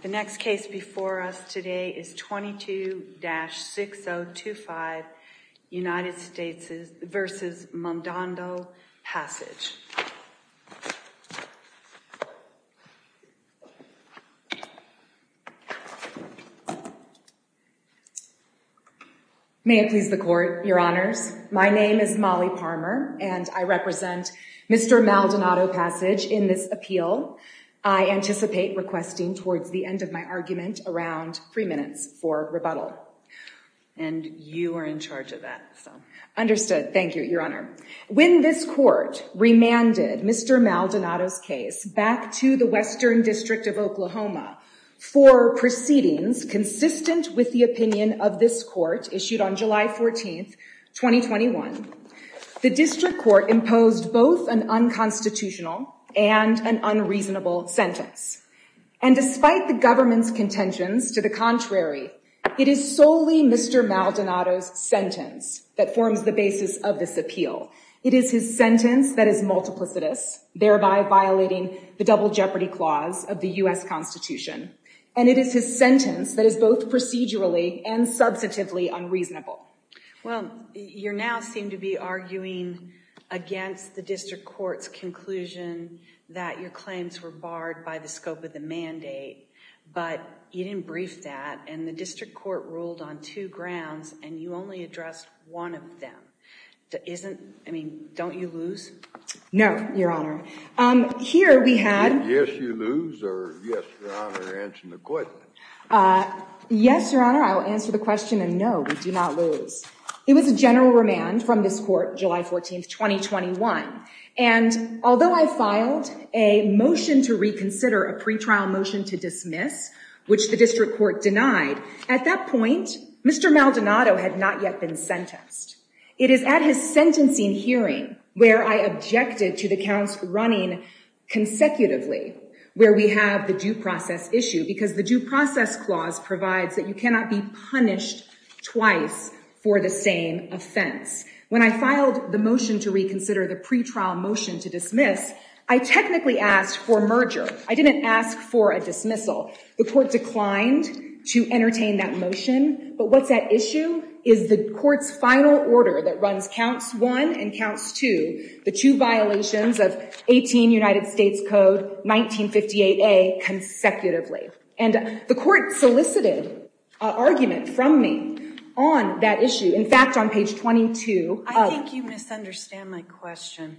The next case before us today is 22-6025 United States v. Maldonado-Passage. May it please the Court, Your Honors. My name is Molly Palmer, and I represent Mr. Maldonado-Passage in this appeal. I anticipate requesting towards the end of my argument around three minutes for rebuttal. And you are in charge of that. Understood. Thank you, Your Honor. When this Court remanded Mr. Maldonado's case back to the Western District of Oklahoma for proceedings consistent with the opinion of this Court issued on July 14, 2021, the District Court imposed both an unconstitutional and an unreasonable sentence. And despite the government's contentions to the contrary, it is solely Mr. Maldonado's sentence that forms the basis of this appeal. It is his sentence that is multiplicitous, thereby violating the double jeopardy clause of the U.S. Constitution. And it is his sentence that is both procedurally and substantively unreasonable. Well, you now seem to be arguing against the District Court's conclusion that your claims were barred by the scope of the mandate. But you didn't brief that, and the District Court ruled on two grounds, and you only addressed one of them. I mean, don't you lose? No, Your Honor. Here we had— Did you say, yes, you lose, or yes, Your Honor, answer the question? Yes, Your Honor, I will answer the question, and no, we do not lose. It was a general remand from this Court, July 14, 2021. And although I filed a motion to reconsider, a pretrial motion to dismiss, which the District Court denied, at that point, Mr. Maldonado had not yet been sentenced. It is at his sentencing hearing where I objected to the counts running consecutively where we have the due process issue, because the due process clause provides that you cannot be punished twice for the same offense. When I filed the motion to reconsider, the pretrial motion to dismiss, I technically asked for merger. I didn't ask for a dismissal. The Court declined to entertain that motion, but what's at issue is the Court's final order that runs counts one and counts two, the two violations of 18 United States Code, 1958A, consecutively. And the Court solicited an argument from me on that issue. In fact, on page 22— I think you misunderstand my question.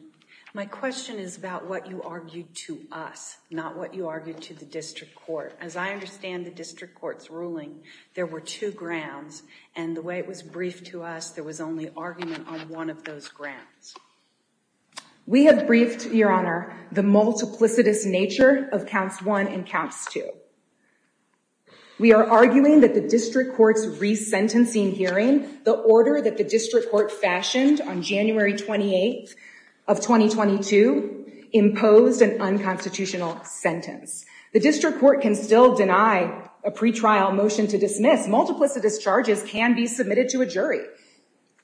My question is about what you argued to us, not what you argued to the District Court. As I understand the District Court's ruling, there were two grounds, and the way it was briefed to us, there was only argument on one of those grounds. We have briefed, Your Honor, the multiplicitous nature of counts one and counts two. We are arguing that the District Court's resentencing hearing, the order that the District Court fashioned on January 28th of 2022, imposed an unconstitutional sentence. The District Court can still deny a pretrial motion to dismiss. Multiplicitous charges can be submitted to a jury.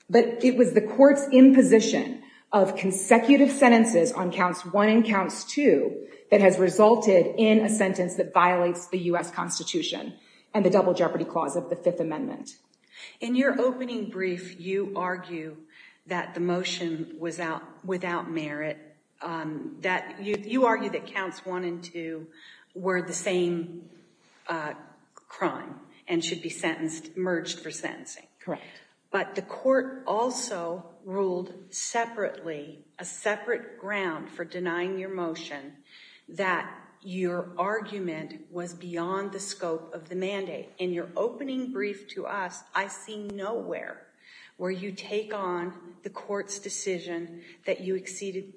But it was the Court's imposition of consecutive sentences on counts one and counts two that has resulted in a sentence that violates the U.S. Constitution and the Double Jeopardy Clause of the Fifth Amendment. In your opening brief, you argue that the motion was without merit. You argue that counts one and two were the same crime and should be merged for sentencing. Correct. But the Court also ruled separately, a separate ground for denying your motion, that your argument was beyond the scope of the mandate. In your opening brief to us, I see nowhere where you take on the Court's decision that you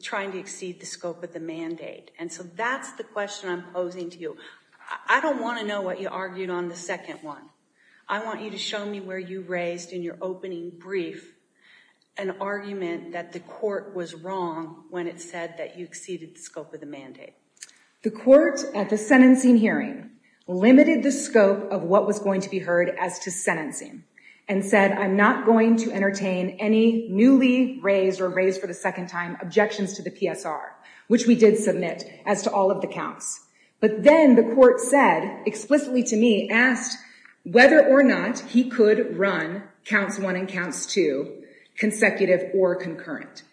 tried to exceed the scope of the mandate. And so that's the question I'm posing to you. I don't want to know what you argued on the second one. I want you to show me where you raised in your opening brief an argument that the Court was wrong when it said that you exceeded the scope of the mandate. The Court at the sentencing hearing limited the scope of what was going to be heard as to sentencing and said, I'm not going to entertain any newly raised or raised for the second time objections to the PSR, which we did submit as to all of the counts. But then the Court said, explicitly to me, asked whether or not he could run counts one and counts two consecutive or concurrent.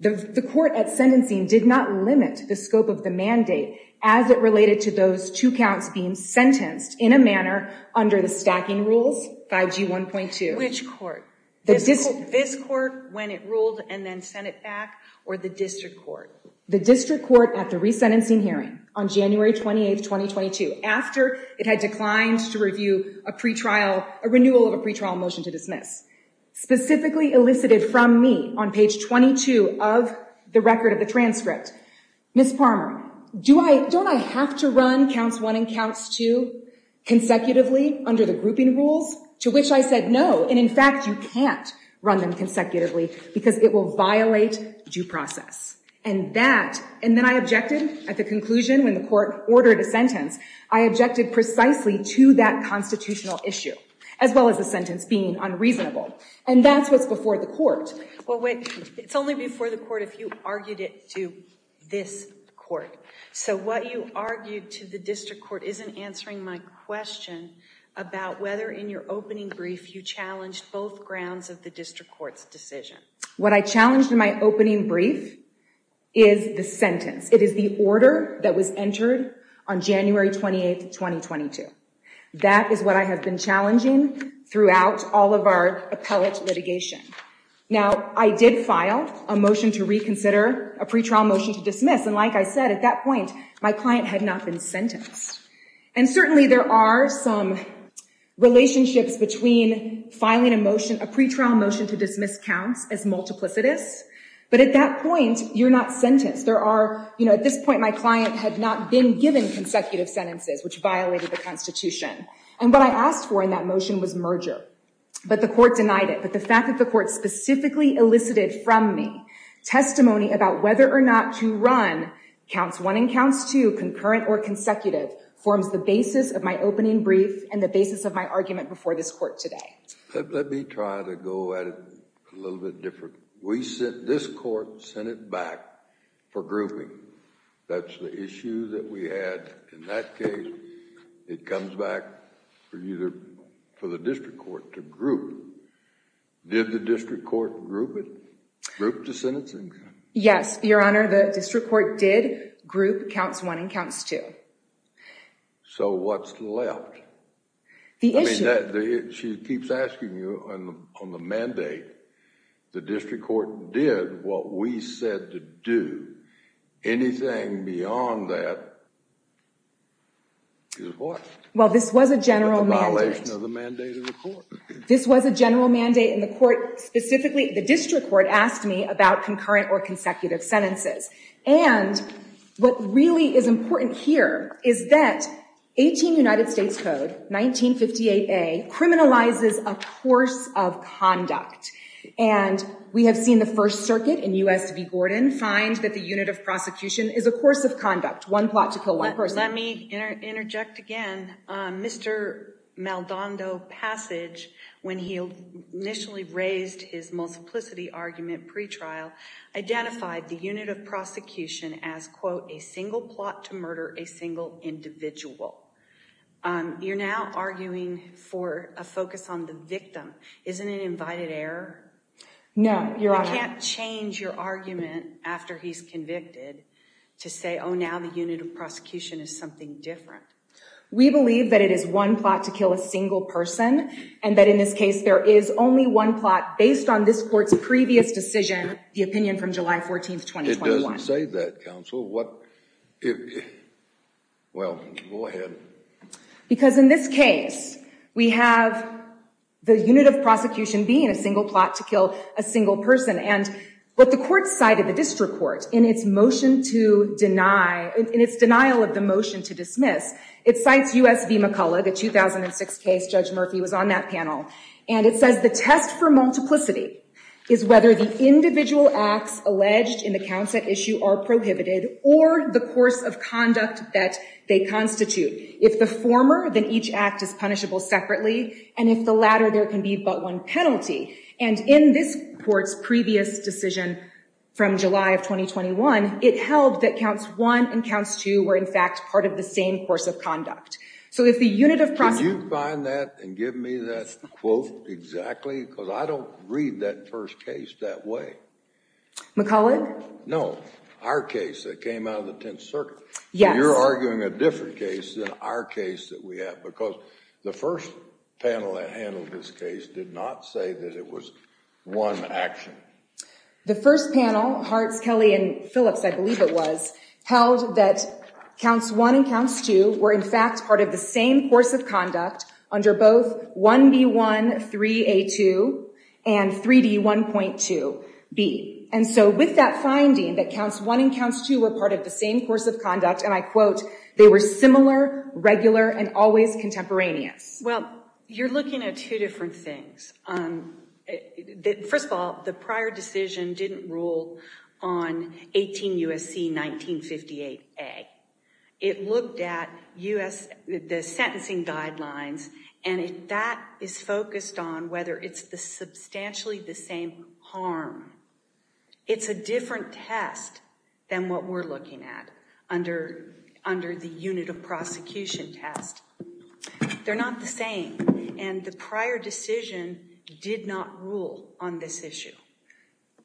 The Court at sentencing did not limit the scope of the mandate as it related to those two counts being sentenced in a manner under the stacking rules 5G 1.2. Which court? This court when it ruled and then sent it back or the district court? The district court at the resentencing hearing on January 28, 2022, after it had declined to review a pre-trial, a renewal of a pre-trial motion to dismiss. Specifically elicited from me on page 22 of the record of the transcript. Ms. Palmer, don't I have to run counts one and counts two consecutively under the grouping rules? To which I said no. And in fact, you can't run them consecutively because it will violate due process. And that, and then I objected at the conclusion when the court ordered a sentence, I objected precisely to that constitutional issue. As well as the sentence being unreasonable. And that's what's before the court. Well wait, it's only before the court if you argued it to this court. So what you argued to the district court isn't answering my question about whether in your opening brief you challenged both grounds of the district court's decision. What I challenged in my opening brief is the sentence. It is the order that was entered on January 28, 2022. That is what I have been challenging throughout all of our appellate litigation. Now, I did file a motion to reconsider a pre-trial motion to dismiss. And like I said, at that point, my client had not been sentenced. And certainly there are some relationships between filing a motion, a pre-trial motion to dismiss counts as multiplicitous. But at that point, you're not sentenced. There are, you know, at this point my client had not been given consecutive sentences, which violated the Constitution. And what I asked for in that motion was merger. But the court denied it. But the fact that the court specifically elicited from me testimony about whether or not to run counts one and counts two concurrent or consecutive forms the basis of my opening brief and the basis of my argument before this court today. Let me try to go at it a little bit different. We sent this court, sent it back for grouping. That's the issue that we had in that case. It comes back for the district court to group. Did the district court group it, group the sentencing? Yes, Your Honor. The district court did group counts one and counts two. So what's left? The issue... Well, this was a general mandate. This was a general mandate, and the court specifically, the district court asked me about concurrent or consecutive sentences. And what really is important here is that 18 United States Code, 1958A, criminalizes a course of conduct. And we have seen the First Circuit in U.S. v. Gordon find that the unit of prosecution is a course of conduct, one plot to kill one person. Let me interject again. Mr. Maldondo Passage, when he initially raised his multiplicity argument pretrial, identified the unit of prosecution as, quote, a single plot to murder a single individual. You're now arguing for a focus on the victim. Isn't it invited error? No, Your Honor. You can't change your argument after he's convicted to say, oh, now the unit of prosecution is something different. We believe that it is one plot to kill a single person and that in this case there is only one plot based on this court's previous decision, the opinion from July 14, 2021. It doesn't say that, counsel. What... Well, go ahead. Because in this case, we have the unit of prosecution being a single plot to kill a single person. And what the court cited, the district court, in its motion to deny, in its denial of the motion to dismiss, it cites U.S. v. McCulloch, a 2006 case. Judge Murphy was on that panel. And it says the test for multiplicity is whether the individual acts alleged in the counts at issue are prohibited or the course of conduct that they constitute. If the former, then each act is punishable separately. And if the latter, there can be but one penalty. And in this court's previous decision from July of 2021, it held that counts one and counts two were, in fact, part of the same course of conduct. Can you find that and give me that quote exactly? Because I don't read that first case that way. McCulloch? No. Our case that came out of the Tenth Circuit. Yes. You're arguing a different case than our case that we have. Because the first panel that handled this case did not say that it was one action. The first panel, Hartz, Kelly, and Phillips, I believe it was, held that counts one and counts two were, in fact, part of the same course of conduct under both 1B1, 3A2, and 3D1.2B. And so with that finding that counts one and counts two were part of the same course of conduct, and I quote, they were similar, regular, and always contemporaneous. Well, you're looking at two different things. First of all, the prior decision didn't rule on 18 U.S.C. 1958A. It looked at the sentencing guidelines, and that is focused on whether it's substantially the same harm. It's a different test than what we're looking at under the unit of prosecution test. They're not the same, and the prior decision did not rule on this issue.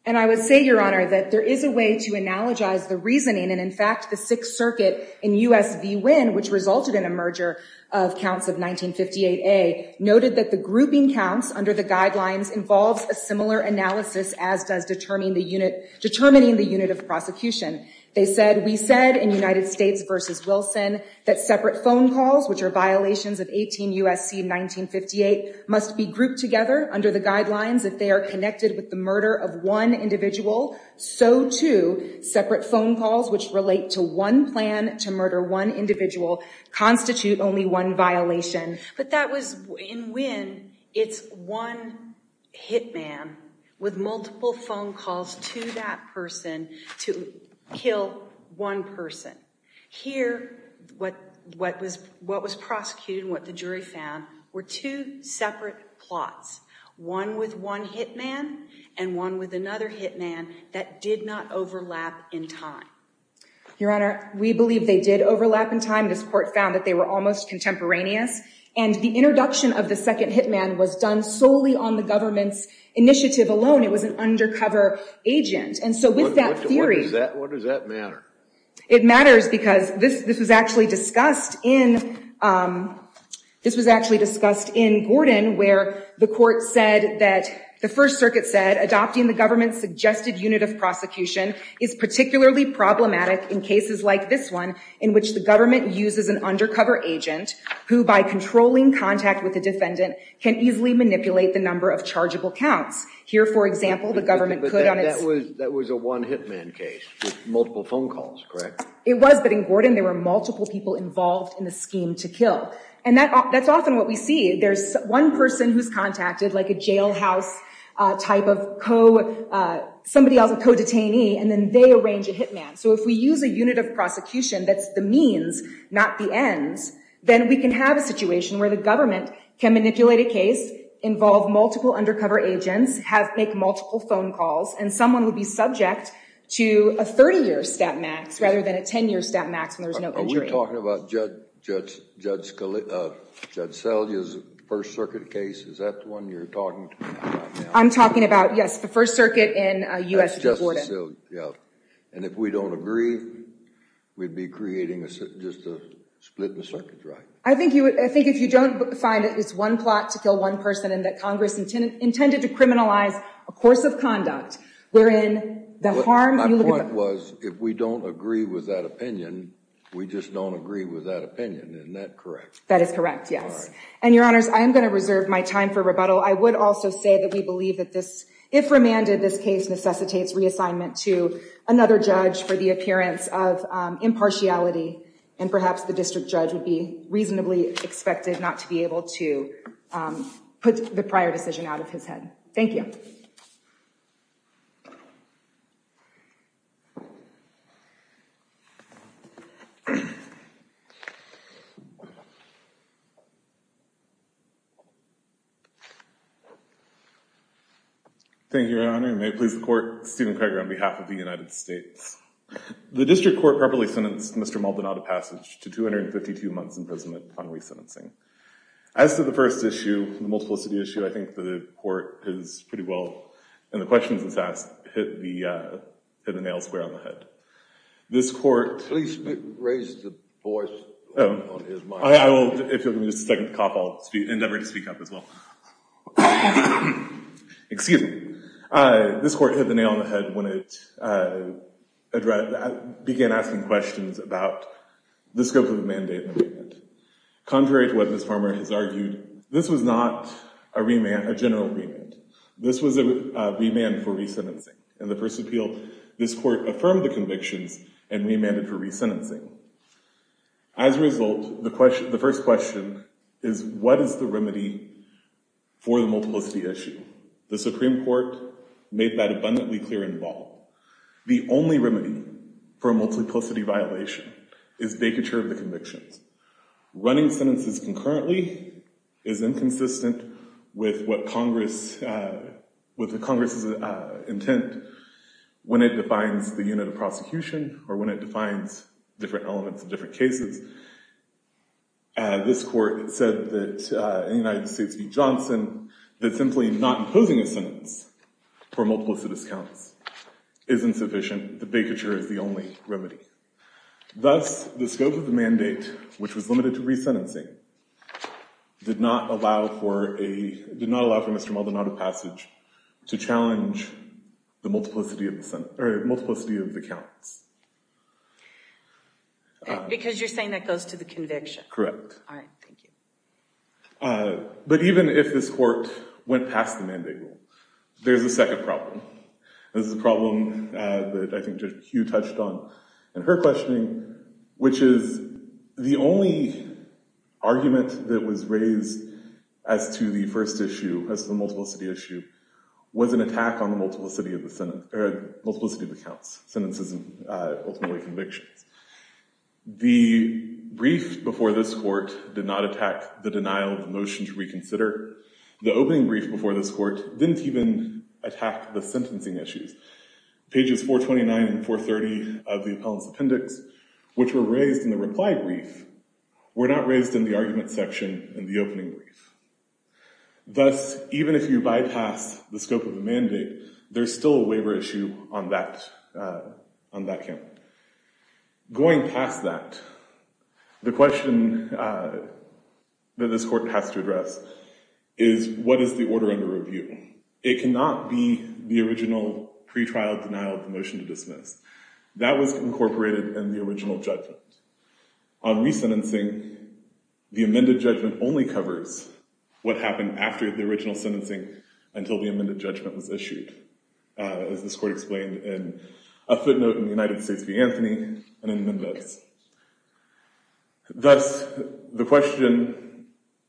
And I would say, Your Honor, that there is a way to analogize the reasoning, and in fact, the Sixth Circuit in U.S.V. Wynne, which resulted in a merger of counts of 1958A, noted that the grouping counts under the guidelines involves a similar analysis as does determining the unit of prosecution. They said, We said in United States v. Wilson that separate phone calls, which are violations of 18 U.S.C. 1958, must be grouped together under the guidelines. If they are connected with the murder of one individual, so too separate phone calls, which relate to one plan to murder one individual, constitute only one violation. But that was in Wynne, it's one hit man with multiple phone calls to that person to kill one person. Here, what was prosecuted and what the jury found were two separate plots, one with one hit man and one with another hit man, that did not overlap in time. Your Honor, we believe they did overlap in time. This court found that they were almost contemporaneous. And the introduction of the second hit man was done solely on the government's initiative alone. It was an undercover agent. And so with that theory... What does that matter? It matters because this was actually discussed in Gordon where the court said that the First Circuit said, Adopting the government's suggested unit of prosecution is particularly problematic in cases like this one, in which the government uses an undercover agent who, by controlling contact with the defendant, can easily manipulate the number of chargeable counts. Here, for example, the government put on its... It was, but in Gordon there were multiple people involved in the scheme to kill. And that's often what we see. There's one person who's contacted, like a jailhouse type of co-detainee, and then they arrange a hit man. So if we use a unit of prosecution that's the means, not the ends, then we can have a situation where the government can manipulate a case, involve multiple undercover agents, make multiple phone calls, and someone would be subject to a 30-year stat max rather than a 10-year stat max when there's no injury. Are we talking about Judge Selye's First Circuit case? Is that the one you're talking about? I'm talking about, yes, the First Circuit in U.S. v. Gordon. And if we don't agree, we'd be creating just a split in the circuit, right? I think if you don't find that it's one plot to kill one person and that Congress intended to criminalize a course of conduct wherein the harm you look at the- My point was if we don't agree with that opinion, we just don't agree with that opinion. Isn't that correct? That is correct, yes. And, Your Honors, I am going to reserve my time for rebuttal. I would also say that we believe that this, if remanded, this case necessitates reassignment to another judge for the appearance of impartiality. And perhaps the district judge would be reasonably expected not to be able to put the prior decision out of his head. Thank you. Thank you, Your Honor. May it please the Court, Stephen Craig on behalf of the United States. The district court properly sentenced Mr. Maldonado Passage to 252 months imprisonment on resentencing. As to the first issue, the multiple city issue, I think the court has pretty well, and the questions it's asked, hit the nail square on the head. This court- Please raise the voice on his mic. If you'll give me just a second to cough, I'll endeavor to speak up as well. Excuse me. This court hit the nail on the head when it began asking questions about the scope of the mandate amendment. Contrary to what Ms. Farmer has argued, this was not a general remand. This was a remand for resentencing. In the first appeal, this court affirmed the convictions and remanded for resentencing. As a result, the first question is, what is the remedy for the multiple city issue? The Supreme Court made that abundantly clear in the ball. The only remedy for a multiple city violation is vacature of the convictions. Running sentences concurrently is inconsistent with the Congress' intent when it defines the unit of prosecution, or when it defines different elements of different cases. This court said that in the United States v. Johnson, that simply not imposing a sentence for multiple city counts is insufficient. The vacature is the only remedy. Thus, the scope of the mandate, which was limited to resentencing, did not allow for Mr. Mulder not of passage to challenge the multiplicity of the counts. Because you're saying that goes to the conviction? Correct. All right, thank you. But even if this court went past the mandate rule, there's a second problem. This is a problem that I think Judge Hughes touched on in her questioning, which is the only argument that was raised as to the first issue, as to the multiple city issue, was an attack on the multiplicity of the counts, sentences and ultimately convictions. The brief before this court did not attack the denial of the motion to reconsider. However, the opening brief before this court didn't even attack the sentencing issues. Pages 429 and 430 of the appellant's appendix, which were raised in the reply brief, were not raised in the argument section in the opening brief. Thus, even if you bypass the scope of the mandate, there's still a waiver issue on that count. Going past that, the question that this court has to address is what is the order under review? It cannot be the original pretrial denial of the motion to dismiss. That was incorporated in the original judgment. On resentencing, the amended judgment only covers what happened after the original sentencing until the amended judgment was issued. As this court explained in a footnote in the United States v. Anthony and in the amendments. Thus, the question,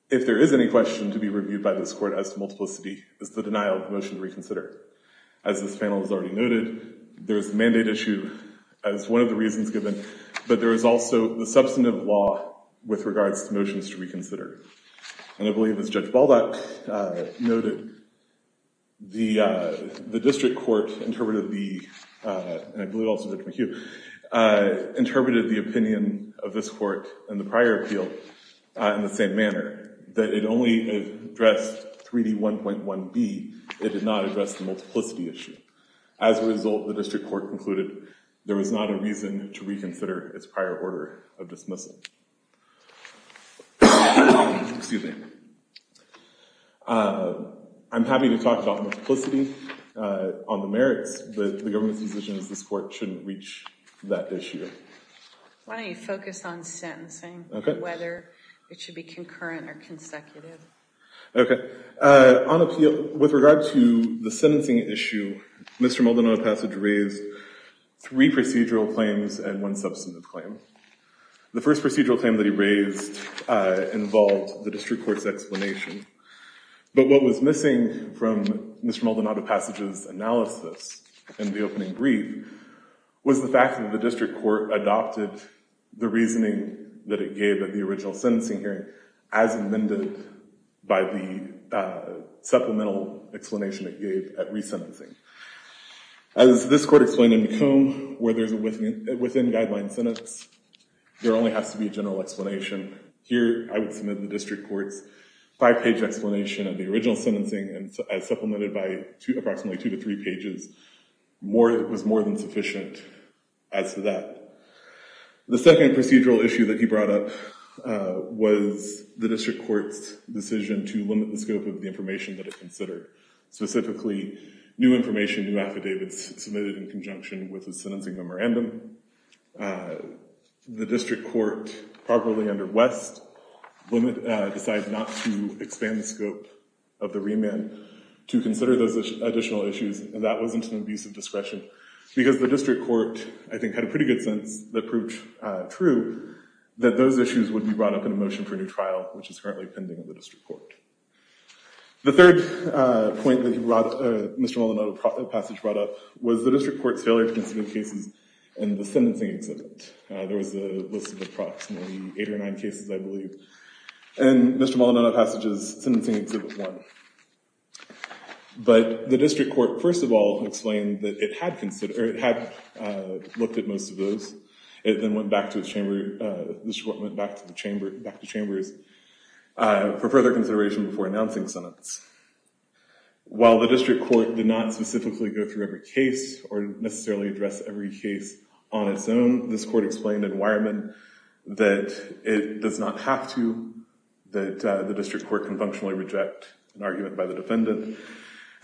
if there is any question to be reviewed by this court as to multiplicity, is the denial of the motion to reconsider. As this panel has already noted, there is the mandate issue as one of the reasons given, but there is also the substantive law with regards to motions to reconsider. And I believe, as Judge Baldock noted, the district court interpreted the opinion of this court and the prior appeal in the same manner, that it only addressed 3D1.1B. It did not address the multiplicity issue. As a result, the district court concluded there was not a reason to reconsider its prior order of dismissal. Excuse me. I'm happy to talk about multiplicity on the merits, but the government's decision is this court shouldn't reach that issue. Why don't you focus on sentencing, whether it should be concurrent or consecutive. Okay. On appeal, with regard to the sentencing issue, Mr. Maldonado Passage raised three procedural claims and one substantive claim. The first procedural claim that he raised involved the district court's explanation. But what was missing from Mr. Maldonado Passage's analysis in the opening brief was the fact that the district court adopted the reasoning that it gave at the original sentencing hearing as amended by the supplemental explanation it gave at resentencing. As this court explained in McComb, where there's a within-guideline sentence, there only has to be a general explanation. Here, I would submit the district court's five-page explanation of the original sentencing as supplemented by approximately two to three pages was more than sufficient as to that. The second procedural issue that he brought up was the district court's decision to limit the scope of the information that it considered. Specifically, new information, new affidavits submitted in conjunction with the sentencing memorandum. The district court, properly under West, decided not to expand the scope of the remand to consider those additional issues, and that wasn't an abuse of discretion because the district court, I think, had a pretty good sense that proved true that those issues would be brought up in a motion for a new trial, which is currently pending in the district court. The third point that Mr. Molinotto's passage brought up was the district court's failure to consider cases in the sentencing exhibit. There was a list of approximately eight or nine cases, I believe, and Mr. Molinotto's passage is Sentencing Exhibit 1. But the district court, first of all, explained that it had looked at most of those. It then went back to the chambers for further consideration before announcing sentence. While the district court did not specifically go through every case or necessarily address every case on its own, this court explained in Weyermann that it does not have to, that the district court can functionally reject an argument by the defendant.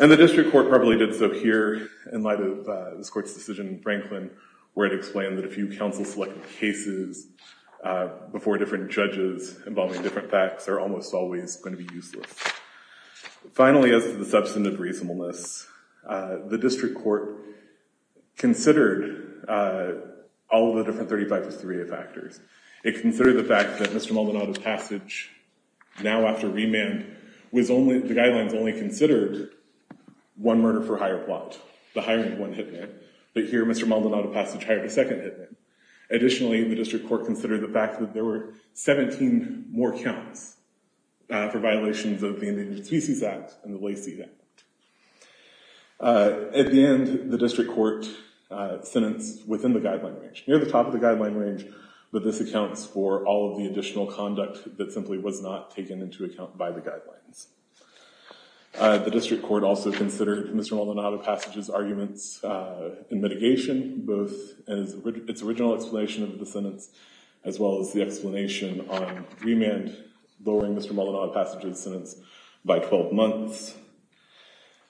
And the district court probably did so here in light of this court's decision in Franklin, where it explained that if you counsel-select cases before different judges involving different facts, they're almost always going to be useless. Finally, as to the substantive reasonableness, the district court considered all of the different 35-53A factors. It considered the fact that Mr. Molinotto's passage now after remand was only, the guidelines only considered one murder-for-hire plot, the hiring of one hitman, but here Mr. Molinotto's passage hired a second hitman. Additionally, the district court considered the fact that there were 17 more counts for violations of the Endangered Species Act and the Lacey Act. At the end, the district court sentenced within the guideline range, near the top of the guideline range, but this accounts for all of the additional conduct that simply was not taken into account by the guidelines. The district court also considered Mr. Molinotto's passage's arguments in mitigation, both its original explanation of the sentence as well as the explanation on remand, lowering Mr. Molinotto's passage's sentence by 12 months.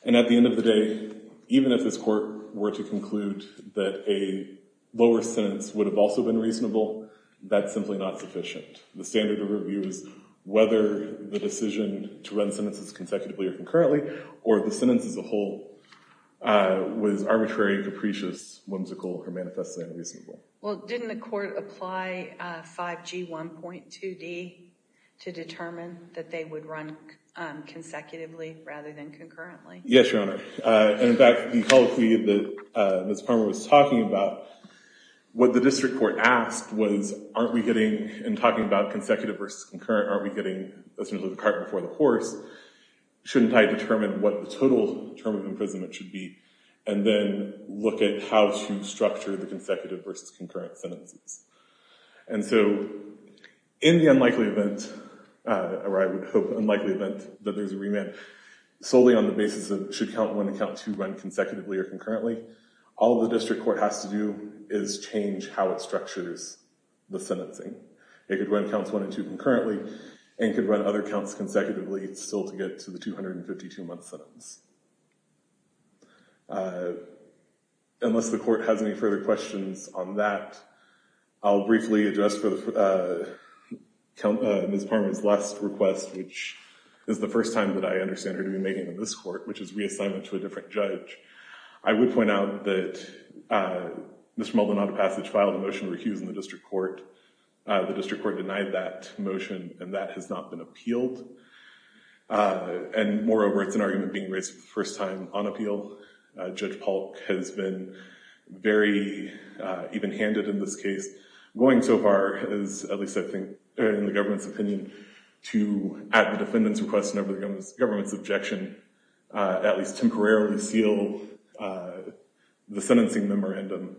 And at the end of the day, even if this court were to conclude that a lower sentence would have also been reasonable, that's simply not sufficient. The standard of review is whether the decision to run sentences consecutively or concurrently or the sentence as a whole was arbitrary, capricious, whimsical, or manifestly unreasonable. Well, didn't the court apply 5G 1.2D to determine that they would run consecutively rather than concurrently? Yes, Your Honor. And in fact, the policy that Ms. Palmer was talking about, what the district court asked was, aren't we getting, in talking about consecutive versus concurrent, aren't we getting essentially the cart before the horse? Shouldn't I determine what the total term of imprisonment should be and then look at how to structure the consecutive versus concurrent sentences? And so in the unlikely event, or I would hope unlikely event, that there's a remand solely on the basis of should count one and count two run consecutively or concurrently, all the district court has to do is change how it structures the sentencing. It could run counts one and two concurrently and could run other counts consecutively still to get to the 252-month sentence. Unless the court has any further questions on that, I'll briefly address Ms. Palmer's last request, which is the first time that I understand her to be making in this court, which is reassignment to a different judge. I would point out that Mr. Maldonado Passage filed a motion to recuse in the district court. The district court denied that motion, and that has not been appealed. And moreover, it's an argument being raised for the first time on appeal. Judge Polk has been very even-handed in this case. Going so far as, at least I think in the government's opinion, to add the defendant's request in over the government's objection, at least temporarily seal the sentencing memorandum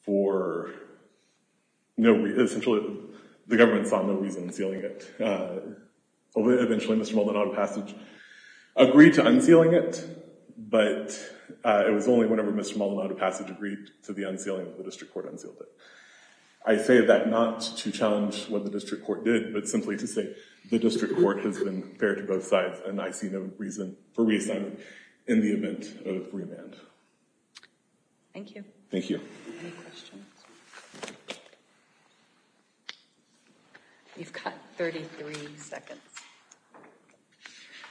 for no reason. Essentially, the government saw no reason in sealing it. Eventually, Mr. Maldonado Passage agreed to unsealing it, but it was only whenever Mr. Maldonado Passage agreed to the unsealing that the district court unsealed it. I say that not to challenge what the district court did, but simply to say the district court has been fair to both sides, and I see no reason for reassignment in the event of remand. Thank you. Thank you. Any questions? You've got 33 seconds.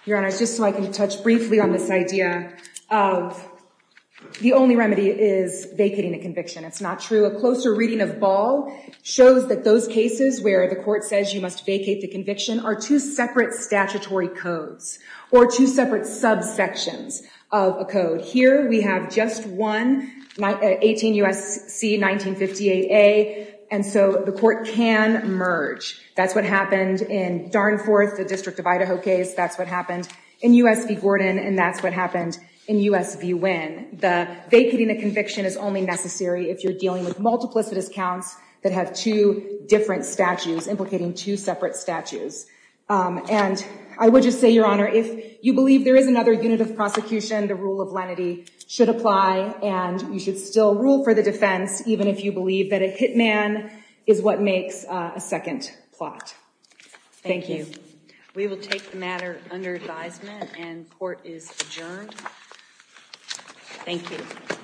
Your Honor, just so I can touch briefly on this idea of the only remedy is vacating the conviction. It's not true. A closer reading of Ball shows that those cases where the court says you must vacate the conviction are two separate statutory codes, or two separate subsections of a code. Here we have just one, 18 U.S.C. 1950AA, and so the court can merge. That's what happened in Darnforth, the District of Idaho case. That's what happened in U.S. v. Gordon, and that's what happened in U.S. v. Wynn. Vacating a conviction is only necessary if you're dealing with multiplicitous counts that have two different statutes implicating two separate statutes. And I would just say, Your Honor, if you believe there is another unit of prosecution, the rule of lenity should apply, and you should still rule for the defense, even if you believe that a hitman is what makes a second plot. Thank you. We will take the matter under advisement, and court is adjourned. Thank you.